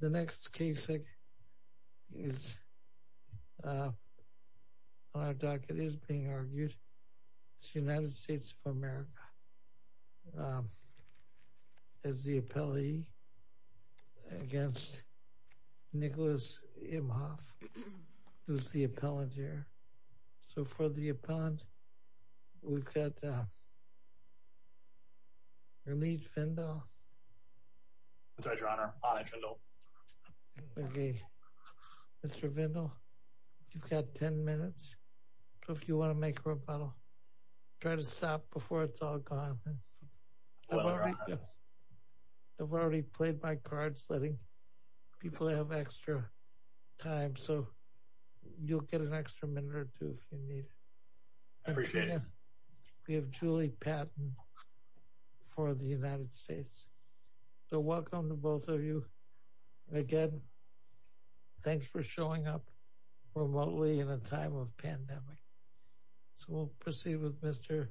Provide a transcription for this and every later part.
The next case on our docket is being argued. It's the United States of America as the appellee against Nicholas Imhoff, who's the appellant here. So for the appellant we've got Ramit Vindal. Mr. Vindal, you've got 10 minutes. If you want to make a rebuttal, try to stop before it's all gone. I've already played my cards letting people have extra time. So you'll get an extra minute or two if you need it. We have Julie Patton for the United States. So welcome to both of you. Again, thanks for showing up remotely in a time of pandemic. So we'll proceed with Mr.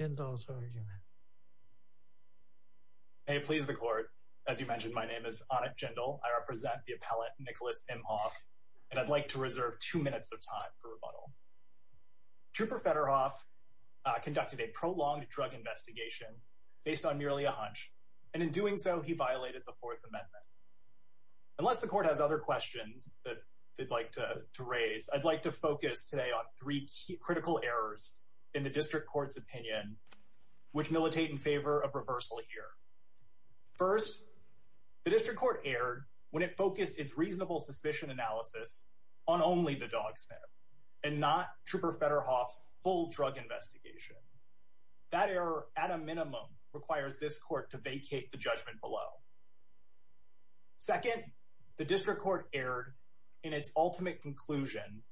Jindal's argument. May it please the court. As you mentioned, my name is Anik Jindal. I represent the appellant Nicholas Imhoff, and I'd like to reserve two minutes of time for rebuttal. Trooper Federoff conducted a prolonged drug investigation based on merely a hunch, and in doing so, he violated the Fourth Amendment. Unless the court has other questions that they'd like to raise, I'd like to focus today on three critical errors in the district court's opinion, which militate in favor of reversal here. First, the district court erred when it focused its reasonable suspicion analysis on only the dog sniff and not Trooper Federoff's full drug investigation. That error, at a minimum, requires this court to vacate the judgment below. Second, the district court erred in its ultimate conclusion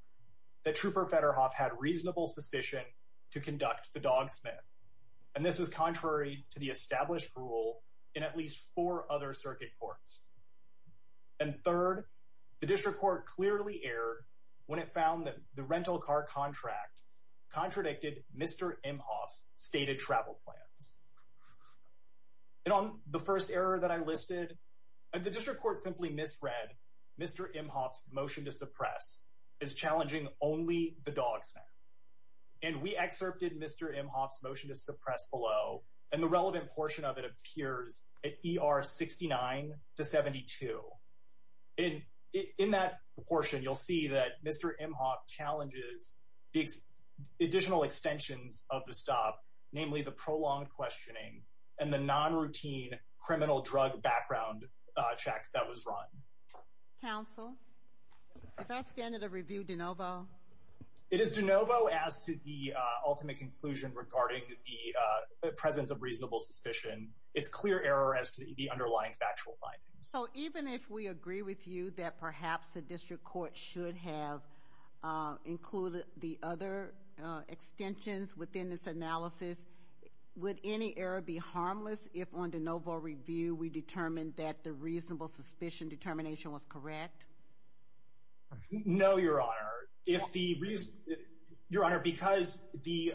that Trooper Federoff had reasonable suspicion to conduct the dog sniff, and this was contrary to the established rule in at least four other circuit courts. And third, the district court clearly erred when it found that the rental car contract contradicted Mr. Imhoff's stated travel plans. And on the first error that I listed, the district court simply misread Mr. Imhoff's motion to suppress as and we excerpted Mr. Imhoff's motion to suppress below, and the relevant portion of it appears at ER 69 to 72. In that portion, you'll see that Mr. Imhoff challenges the additional extensions of the stop, namely the prolonged questioning and the non-routine criminal drug background check that was run. Counsel, is our standard of review de novo? It is de novo as to the ultimate conclusion regarding the presence of reasonable suspicion. It's clear error as to the underlying factual findings. So even if we agree with you that perhaps the district court should have included the other extensions within this analysis, would any error be harmless if on review we determined that the reasonable suspicion determination was correct? No, Your Honor. Your Honor, because the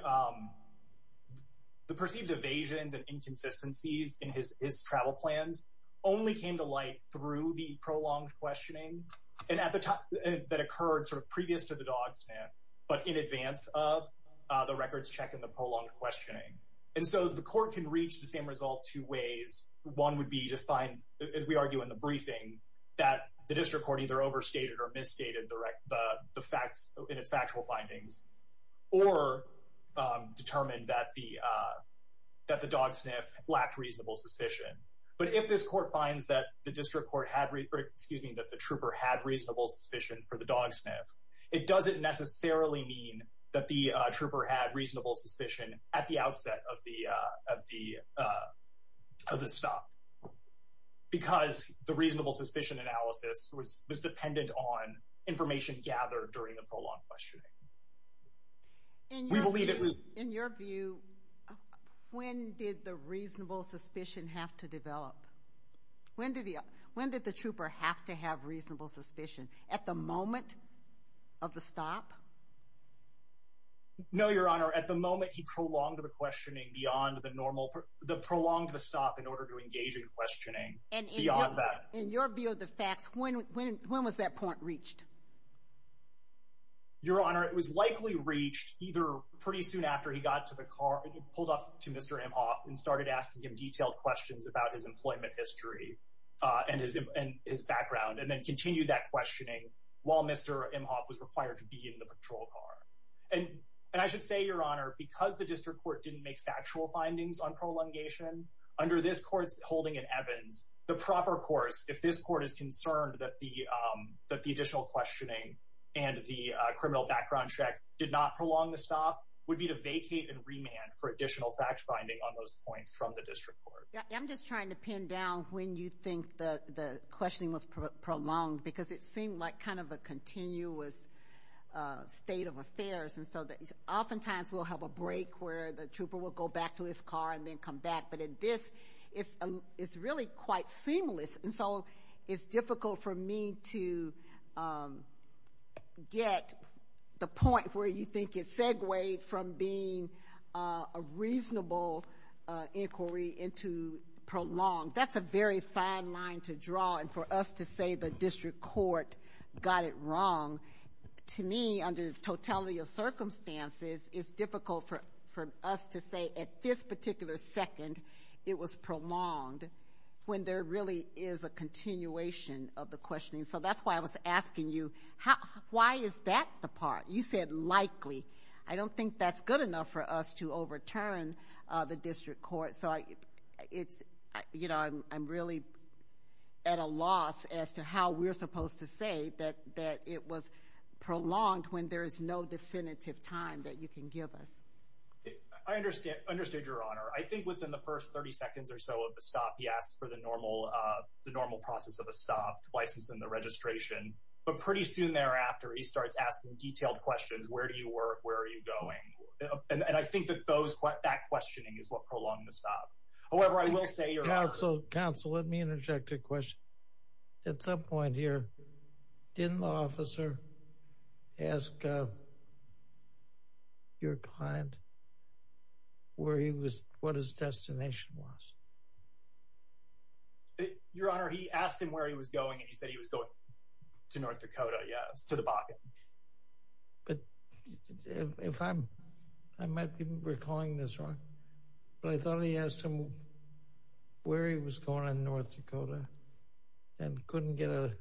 perceived evasions and inconsistencies in his travel plans only came to light through the prolonged questioning that occurred sort of previous to the dog sniff, but in advance of the records check and the prolonged questioning. And so the one would be to find, as we argue in the briefing, that the district court either overstated or misstated the facts in its factual findings or determined that the dog sniff lacked reasonable suspicion. But if this court finds that the district court had, excuse me, that the trooper had reasonable suspicion for the dog sniff, it doesn't necessarily mean that the trooper had stopped because the reasonable suspicion analysis was dependent on information gathered during the prolonged questioning. In your view, when did the reasonable suspicion have to develop? When did the trooper have to have reasonable suspicion? At the moment of the stop? No, Your Honor. At the moment he prolonged the questioning beyond the normal, the prolonged the stop in order to engage in questioning beyond that. In your view of the facts, when was that point reached? Your Honor, it was likely reached either pretty soon after he got to the car and he pulled up to Mr. Imhoff and started asking him detailed questions about his employment history and his background and then continued that questioning while Mr. Imhoff was required to be in the patrol car. And I should say, Your Honor, because the district court didn't make factual findings on prolongation, under this court's holding in Evans, the proper course, if this court is concerned that the additional questioning and the criminal background check did not prolong the stop, would be to vacate and remand for additional fact-finding on those points from the district court. Yeah, I'm just trying to pin down when you think that the questioning was prolonged because it seemed like kind of a continuous state of affairs. And so oftentimes we'll have a break where the trooper will go back to his car and then come back. But in this, it's really quite seamless. And so it's difficult for me to get the point where you think it segued from being a reasonable inquiry into prolonged. That's a very fine line to draw. And for us to say the district court got it wrong, to me, under the totality of circumstances, it's difficult for us to say at this particular second it was prolonged when there really is a continuation of the questioning. So that's why I was asking you, why is that the part? You said likely. I don't think that's good enough for us to overturn the district court. So it's, you know, I'm really at a loss as to how we're supposed to say that it was prolonged when there is no definitive time that you can give us. I understand, your honor. I think within the first 30 seconds or so of the stop, he asked for the normal process of a stop twice in the registration. But pretty soon thereafter, he starts asking detailed questions. Where do you work? Where are you going? And I think that those, that questioning is what prolonged the stop. However, I will say, counsel, let me interject a question. At some point here, didn't the officer ask your client where he was, what his destination was? Your honor, he asked him where he was going and he said he was going to North Dakota, yes, but if I'm, I might be recalling this wrong, but I thought he asked him where he was going in North Dakota and couldn't get an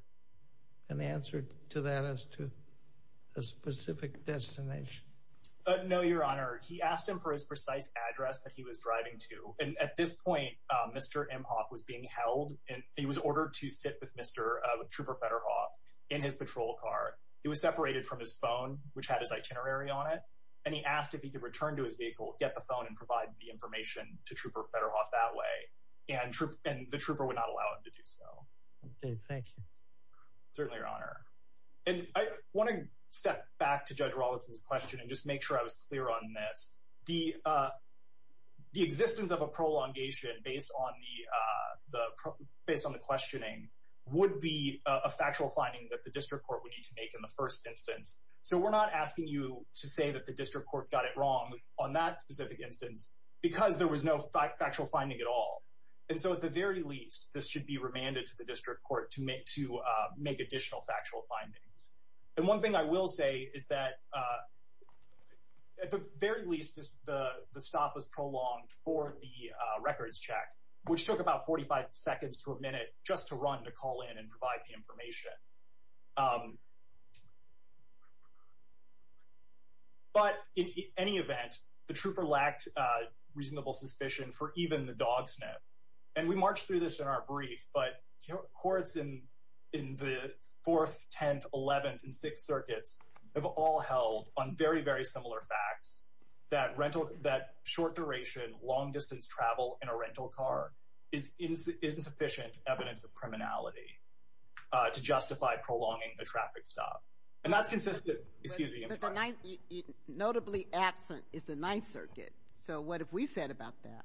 answer to that as to a specific destination. No, your honor. He asked him for his precise address that he was driving to. And at this point, Mr. Imhoff was being held and he was ordered to sit with Mr. Trooper Fedderhoff in his patrol car. He was separated from his phone, which had his itinerary on it. And he asked if he could return to his vehicle, get the phone and provide the information to Trooper Fedderhoff that way. And the Trooper would not allow him to do so. Thank you. Certainly, your honor. And I want to step back to Judge Rawlinson's question and just make sure I was clear on this. The existence of a based on the questioning would be a factual finding that the district court would need to make in the first instance. So we're not asking you to say that the district court got it wrong on that specific instance because there was no factual finding at all. And so at the very least, this should be remanded to the district court to make additional factual findings. And one thing I will say is that at the very least, the stop was prolonged for the records check, which took about 45 seconds to a minute just to run to call in and provide the information. But in any event, the Trooper lacked reasonable suspicion for even the dog sniff. And we marched through this in our brief, but courts in the 4th, 10th, 11th and 6th circuits have all held on very, very similar facts that rental, that short duration, long distance travel in a rental car is insufficient evidence of criminality to justify prolonging the traffic stop. And that's consistent, excuse me. Notably absent is the 9th circuit. So what have we said about that?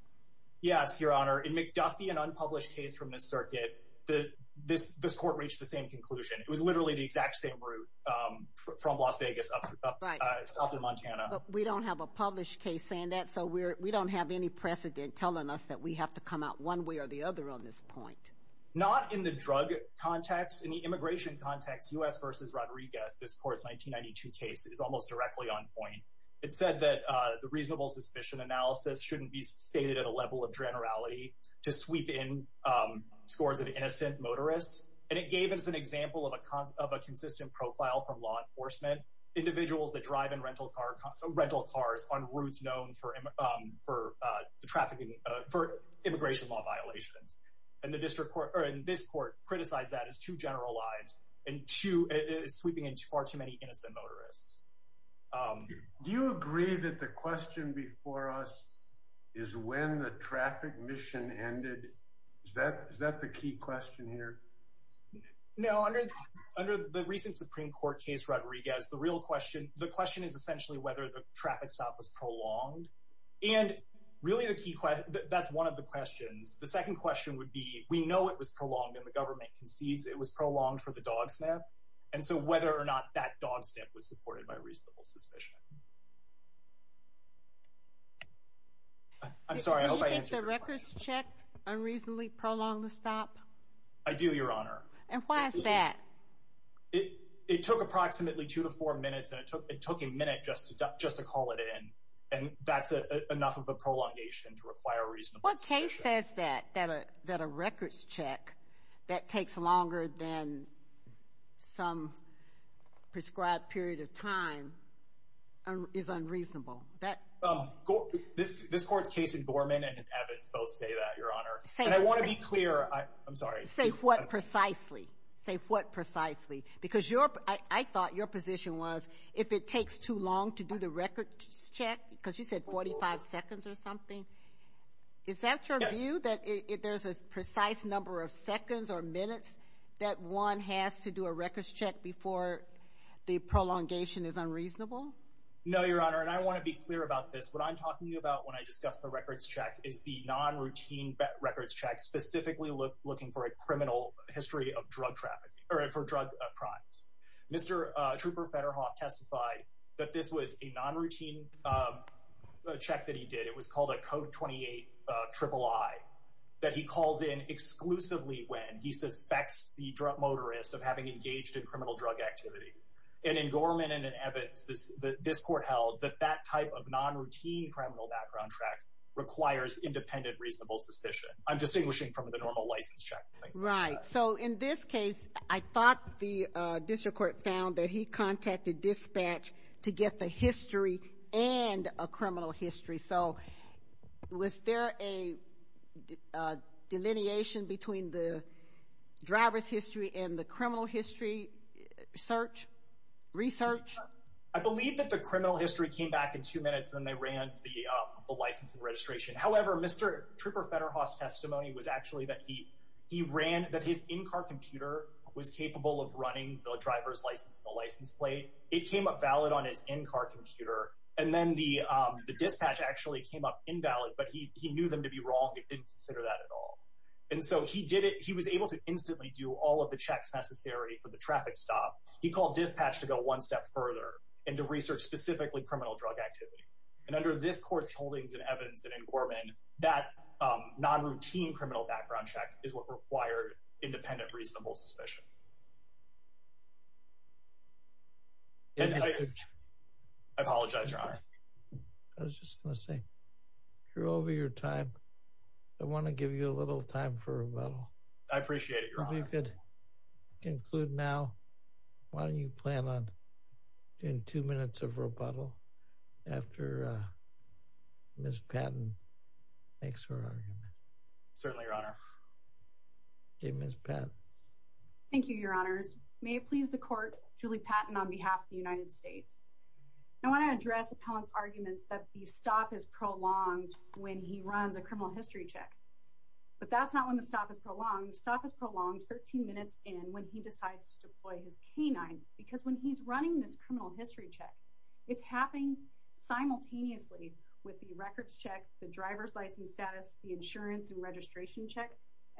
Yes, your honor. In McDuffie, an unpublished case from the circuit that this court reached the same conclusion. It was literally the exact same route from Las Vegas up in Montana. We don't have a published case saying that. So we don't have any precedent telling us that we have to come out one way or the other on this point. Not in the drug context. In the immigration context, US versus Rodriguez, this court's 1992 case is almost directly on point. It said that the reasonable suspicion analysis shouldn't be stated at a level of generality to sweep in scores of innocent motorists. And it gave us an example of a consistent profile from law enforcement individuals that drive in rental cars on routes known for the trafficking, for immigration law violations. And this court criticized that as too generalized and sweeping in far too many innocent motorists. Do you agree that the question before us is when the traffic mission ended? Is that the key question here? No, under the recent Supreme Court case, Rodriguez, the real question, the question is essentially whether the traffic stop was prolonged. And really the key question, that's one of the questions. The second question would be, we know it was prolonged and the government concedes it was prolonged for the dog sniff. And so whether or not that dog sniff was supported by reasonable suspicion. I'm sorry, I hope I answered your question. Do you think the records check unreasonably prolonged the stop? I do, Your Honor. And why is that? It took approximately two to four minutes and it took a minute just to call it in. And that's enough of a prolongation to require reasonable suspicion. Case says that a records check that takes longer than some prescribed period of time is unreasonable. This court's case in Gorman and in Abbott both say that, Your Honor. And I want to be clear, I'm sorry. Say what precisely? Say what precisely? Because I thought your position was, if it takes too long to do the records check, because you said 45 seconds or something, is that your view? That there's a precise number of seconds or minutes that one has to do a records check before the prolongation is unreasonable? No, Your Honor. And I want to be clear about this. What I'm talking about when I discuss the records check is the non-routine records check specifically looking for a criminal history of drug trafficking or for drug crimes. Mr. Trooper Federhoff testified that this was a non-routine check that he did. It was called a Code 28 III that he calls in exclusively when he suspects the motorist of having engaged in criminal drug activity. And in Gorman and in Abbott, this court held that that type of non-routine criminal background track requires independent reasonable suspicion. I'm distinguishing from the normal license check. Right. So in this case, I thought the district court found that he contacted dispatch to get the history and a criminal history. So was there a delineation between the driver's history and the criminal history research? I believe that the criminal history came back in two minutes when they ran the license and registration. However, Mr. Trooper Federhoff's testimony was actually that he ran, that his in-car computer was capable of running the driver's license, the license plate. It came up valid on his in-car computer. And then the dispatch actually came up invalid, but he knew them to be wrong and didn't consider that at all. And so he did it. He was able to instantly do all of the checks necessary for the traffic stop. He called dispatch to go one step further and to research specifically criminal drug activity. And under this court's holdings and evidence that in Gorman, that non-routine criminal background check is what required independent reasonable suspicion. I apologize, Your Honor. I was just going to say, you're over your time. I want to give you a little time for rebuttal. I appreciate it, Your Honor. If you could conclude now, why don't you plan on doing two minutes of rebuttal after Ms. Patton makes her argument. Certainly, Your Honor. Okay, Ms. Patton. Thank you, Your Honors. May it please the Court, Julie Patton on behalf of the United States. I want to address the appellant's arguments that the stop is prolonged when he runs a criminal history check. But that's not when the stop is prolonged. The stop is prolonged 13 minutes in when he decides to deploy his canine because when he's running this criminal history check, it's happening simultaneously with the records check, the driver's license status, the insurance and registration check,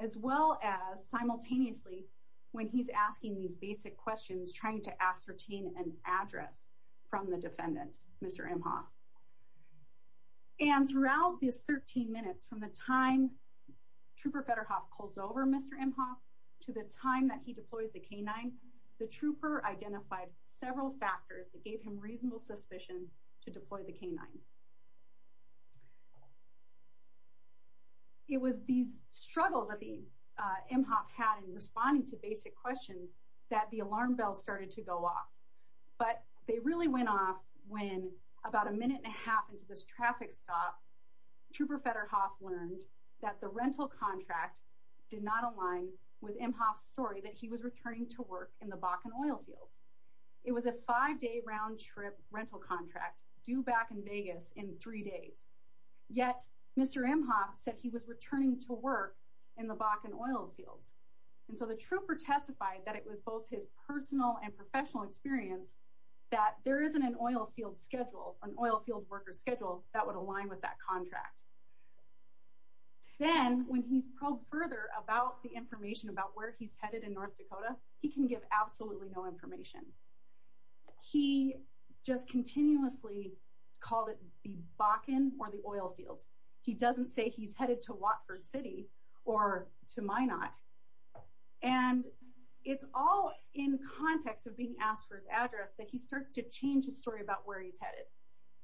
as well as simultaneously when he's asking these basic questions trying to ascertain an address from the defendant, Mr. Imhoff. And throughout this 13 minutes from the time Trooper Federhoff pulls over Mr. Imhoff to the time that he deploys the canine, the trooper identified several factors that gave him reasonable suspicion to deploy the canine. It was these struggles that Imhoff had in responding to basic questions that the alarm bell started to go off. But they really went off when about a minute and a half into this traffic stop, Trooper Federhoff learned that the rental contract did not align with Imhoff's story that he was returning to work in the Bakken oil fields. It was a five-day round-trip rental contract due back in Vegas in three days. Yet Mr. Imhoff said he was returning to work in the Bakken oil fields. And so the trooper testified that it was both his personal and professional experience that there isn't an oil field schedule, an oil field worker's schedule that would align with that contract. Then when he's probed further about the information about where he's headed in North Dakota, he can give absolutely no information. He just continuously called it the Bakken or the oil fields. He doesn't say he's headed to Watford City or to Minot. And it's all in context of being asked for his address that he starts to change his story about where he's headed.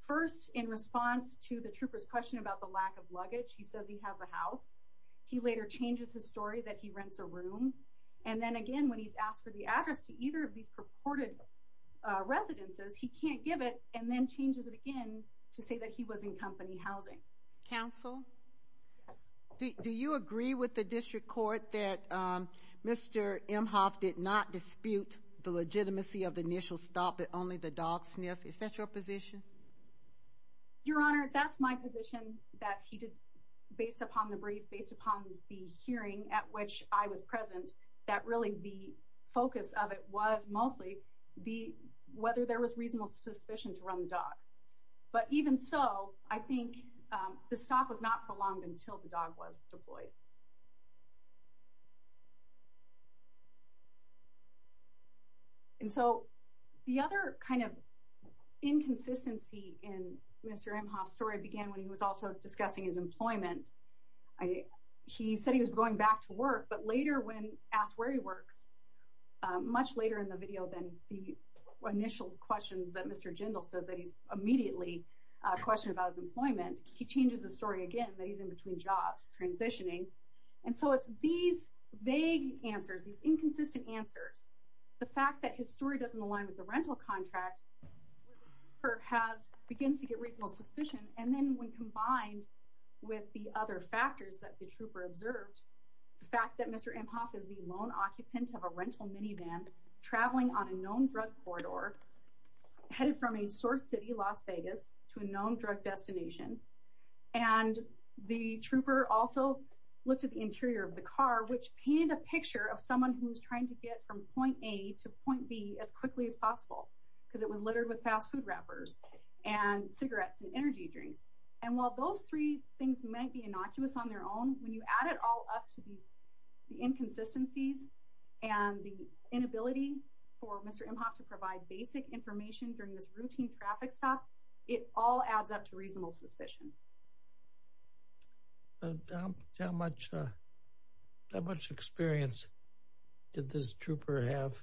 First in response to the trooper's question about the lack of luggage, he says he has a house. He later changes his story that he rents a room. And then again when he's asked for the address to either of these purported residences, he can't give it and then changes it again to say he was in company housing. Counsel, do you agree with the district court that Mr. Imhoff did not dispute the legitimacy of the initial stop at only the dog sniff? Is that your position? Your Honor, that's my position that he did based upon the brief, based upon the hearing at which I was present, that really the focus of it was mostly whether there was reasonable suspicion to run the dog. But even so, I think the stop was not prolonged until the dog was deployed. And so the other kind of inconsistency in Mr. Imhoff's story began when he was also discussing his employment. He said he was going back to work, but later when asked where he works, much later in the video than the initial questions that Mr. Jindal says that he's immediately questioned about his employment, he changes the story again that he's in between jobs transitioning. And so it's these vague answers, these inconsistent answers, the fact that his story doesn't align with the rental contract, begins to get reasonable suspicion. And then when combined with the other factors that the trooper observed, the fact that Mr. Imhoff is the lone occupant of a rental minivan traveling on a known drug corridor, headed from a source city, Las Vegas, to a known drug destination. And the trooper also looked at the interior of the car, which painted a picture of someone who was trying to get from point A to point B as quickly as possible, because it was littered with fast food wrappers and cigarettes and energy drinks. And while those three things might be innocuous on their own, when you add it all up to these, inconsistencies and the inability for Mr. Imhoff to provide basic information during this routine traffic stop, it all adds up to reasonable suspicion. How much experience did this trooper have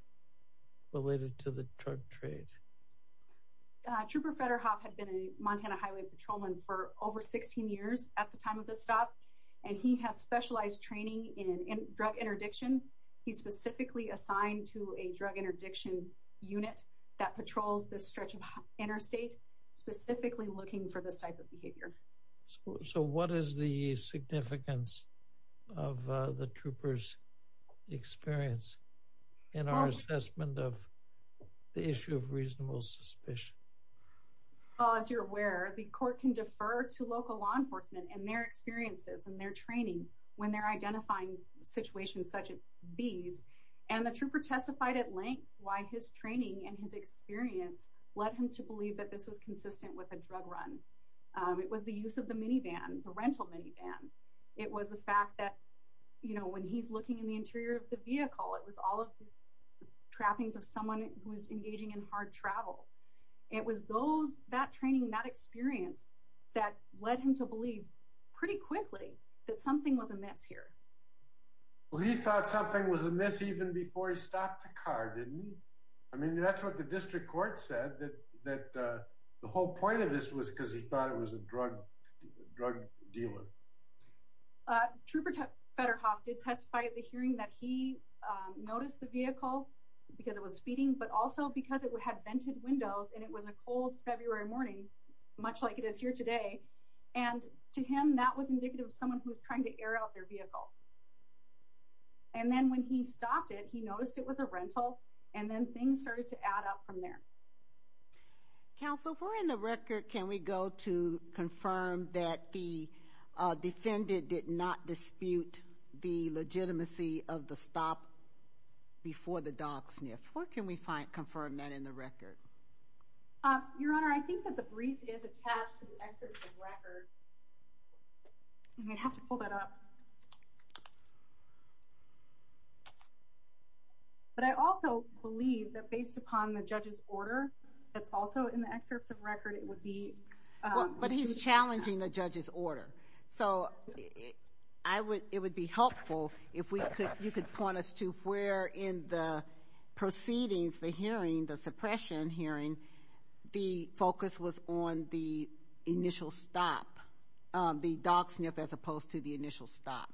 related to the drug trade? Trooper Federhoff had been a Montana Highway Patrolman for over 16 years at the time of this stop. And he has specialized training in drug interdiction. He's specifically assigned to a drug interdiction unit that patrols this stretch of interstate, specifically looking for this type of behavior. So what is the significance of the trooper's experience in our assessment of the issue of reasonable suspicion? Well, as you're aware, the court can defer to local law enforcement and their experiences and their training when they're identifying situations such as these. And the trooper testified at length why his training and his experience led him to believe that this was consistent with a drug run. It was the use of the minivan, the rental minivan. It was the fact that, you know, when he's looking in the interior of the vehicle, it was all of these trappings of someone who was engaging in travel. It was that training, that experience that led him to believe pretty quickly that something was amiss here. Well, he thought something was amiss even before he stopped the car, didn't he? I mean, that's what the district court said, that the whole point of this was because he thought it was a drug dealer. Trooper Federhoff did testify at the hearing that he noticed the vehicle because it was speeding, but also because it had vented windows and it was a cold February morning, much like it is here today. And to him, that was indicative of someone who's trying to air out their vehicle. And then when he stopped it, he noticed it was a rental, and then things started to add up from there. Counsel, if we're in the record, can we go to before the dog sniff? Where can we find, confirm that in the record? Your Honor, I think that the brief is attached to the excerpts of record. I'm going to have to pull that up. But I also believe that based upon the judge's order that's also in the excerpts of record, it would be... But he's challenging the judge's order. So I would, it would be helpful if we could point us to where in the proceedings, the hearing, the suppression hearing, the focus was on the initial stop, the dog sniff as opposed to the initial stop.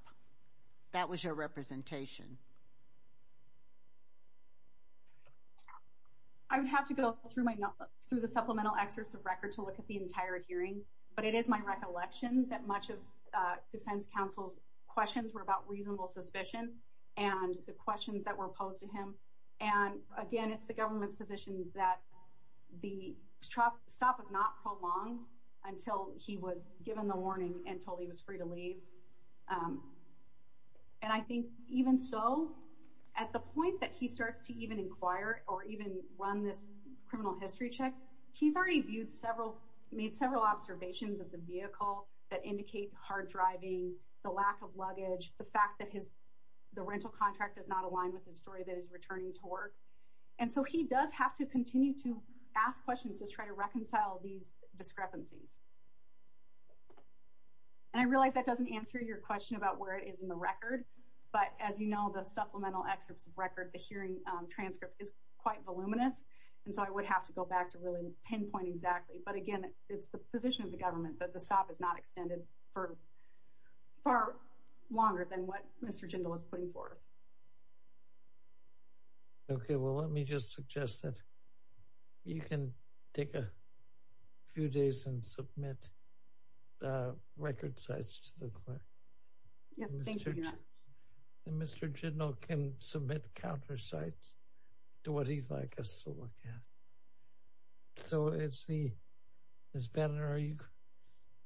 That was your representation. I would have to go through the supplemental excerpts of record to look at the entire hearing, but it is my recollection that much of defense counsel's questions were about reasonable suspicion and the questions that were posed to him. And again, it's the government's position that the stop was not prolonged until he was given the warning and told he was free to leave. And I think even so, at the point that he starts to even inquire or even run this criminal history check, he's already made several observations of the vehicle that indicate hard driving, the lack of luggage, the fact that his, the rental contract does not align with the story that is returning to work. And so he does have to continue to ask questions to try to reconcile these discrepancies. And I realize that doesn't answer your question about where it is in the record. But as you know, the supplemental excerpts of record, the hearing transcript is quite voluminous. And so I would have to go back to really pinpoint exactly. But again, it's the position of the far longer than what Mr. Jindal was putting forth. Okay, well, let me just suggest that you can take a few days and submit record sites to the court. Mr. Jindal can submit counter sites to what he'd like us to look at. So it's the, Ms. Bannon, are you,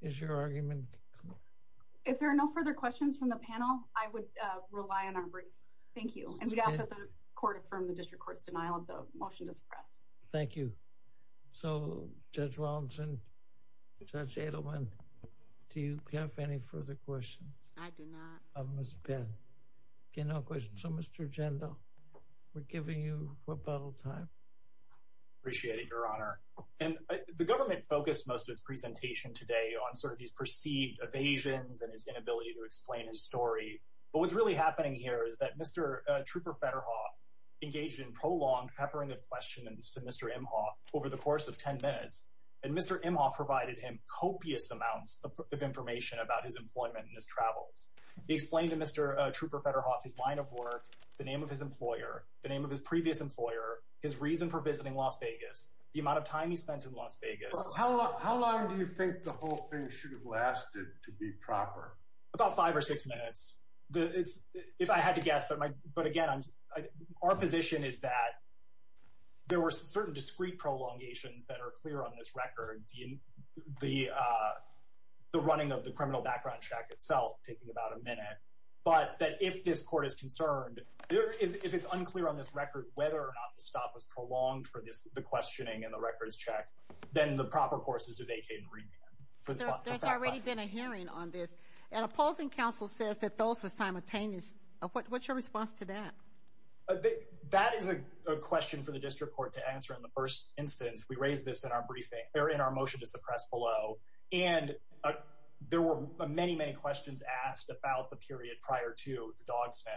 is your argument clear? If there are no further questions from the panel, I would rely on our brief. Thank you. And we'd ask that the court affirm the district court's denial of the motion to suppress. Thank you. So Judge Robinson, Judge Adelman, do you have any further questions? I do not. Of Ms. Bannon. Okay, no questions. So Mr. Jindal, we're giving you rebuttal time. Appreciate it, Your Honor. And the government focused most of the presentation today on sort of these perceived evasions and his inability to explain his story. But what's really happening here is that Mr. Trooper Federhoff engaged in prolonged peppering of questions to Mr. Imhoff over the course of 10 minutes. And Mr. Imhoff provided him copious amounts of information about his employment and his travels. He explained to Mr. Trooper Federhoff his line of work, the name of his employer, the name of his previous employer, his reason for visiting Las Vegas, the amount of time he spent in Las Vegas. How long do you think the whole thing should have lasted to be proper? About five or six minutes. If I had to guess, but again, our position is that there were certain discrete prolongations that are clear on this record. The running of the if it's unclear on this record whether or not the stop was prolonged for this, the questioning and the record is checked, then the proper course is to vacate and remand. There's already been a hearing on this and opposing counsel says that those were simultaneous. What's your response to that? That is a question for the district court to answer. In the first instance, we raised this in our briefing or in our motion to suppress below. And there were many, many questions asked about the period prior to the dog sniff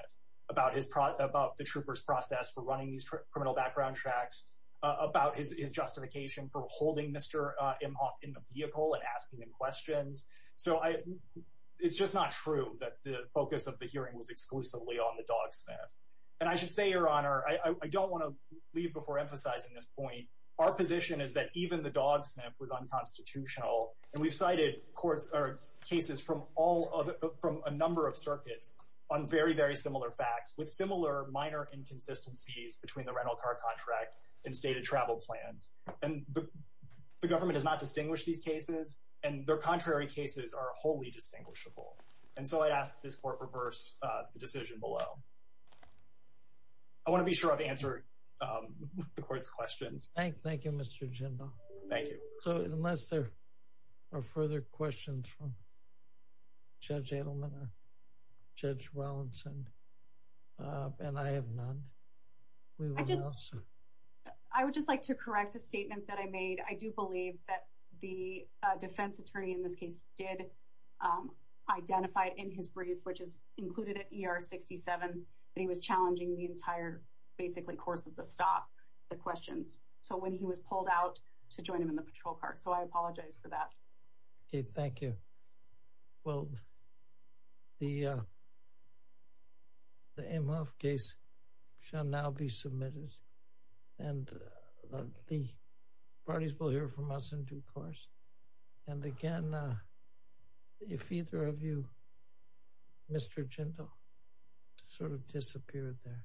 about his about the troopers process for running these criminal background tracks about his justification for holding Mr. Imhoff in the vehicle and asking him questions. So it's just not true that the focus of the hearing was exclusively on the dog sniff. And I should say, Your Honor, I don't want to leave before emphasizing this point. Our position is that even the dog sniff was unconstitutional. And we've courts or cases from all from a number of circuits on very, very similar facts with similar minor inconsistencies between the rental car contract and stated travel plans. And the government does not distinguish these cases and their contrary cases are wholly distinguishable. And so I asked this court reverse the decision below. I want to be sure I've answered the court's questions. Thank you, Mr. Jindal. Thank you. So unless there are further questions from Judge Edelman, Judge Wellesley, and I have none. I would just like to correct a statement that I made. I do believe that the defense attorney in this case did identify in his brief, which is included at ER 67, that he was challenging the entire basically course of the stop the questions. So when he was pulled out to join him in the patrol car. So I apologize for that. Okay, thank you. Well, the the case shall now be submitted. And the parties will hear from us in due course. And again, if either of you, Mr. Jindal sort of disappeared there.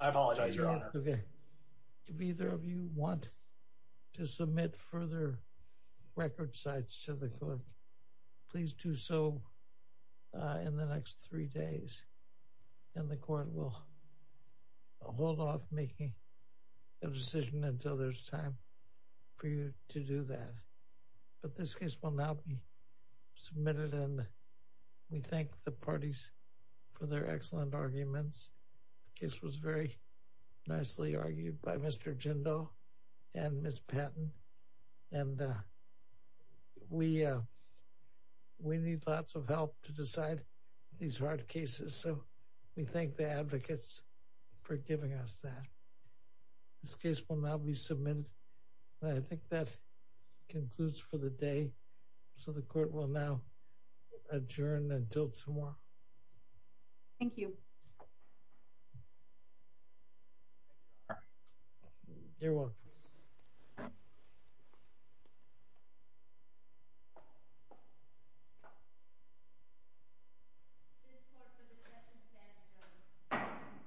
I apologize. Okay. If either of you want to submit further record sites to the court, please do so in the next three days. And the court will hold off making a decision until there's time. For you to do that. But this case will now be submitted. And we thank the parties for their excellent arguments. This was very nicely argued by Mr. Jindal, and Miss Patton. And we we need lots of help to decide these hard cases. So we thank the advocates for giving us that. This case will now be submitted. I think that concludes for the day. So the court will now adjourn until tomorrow. Thank you. Thank you all. This court for the discussion standing is adjourned.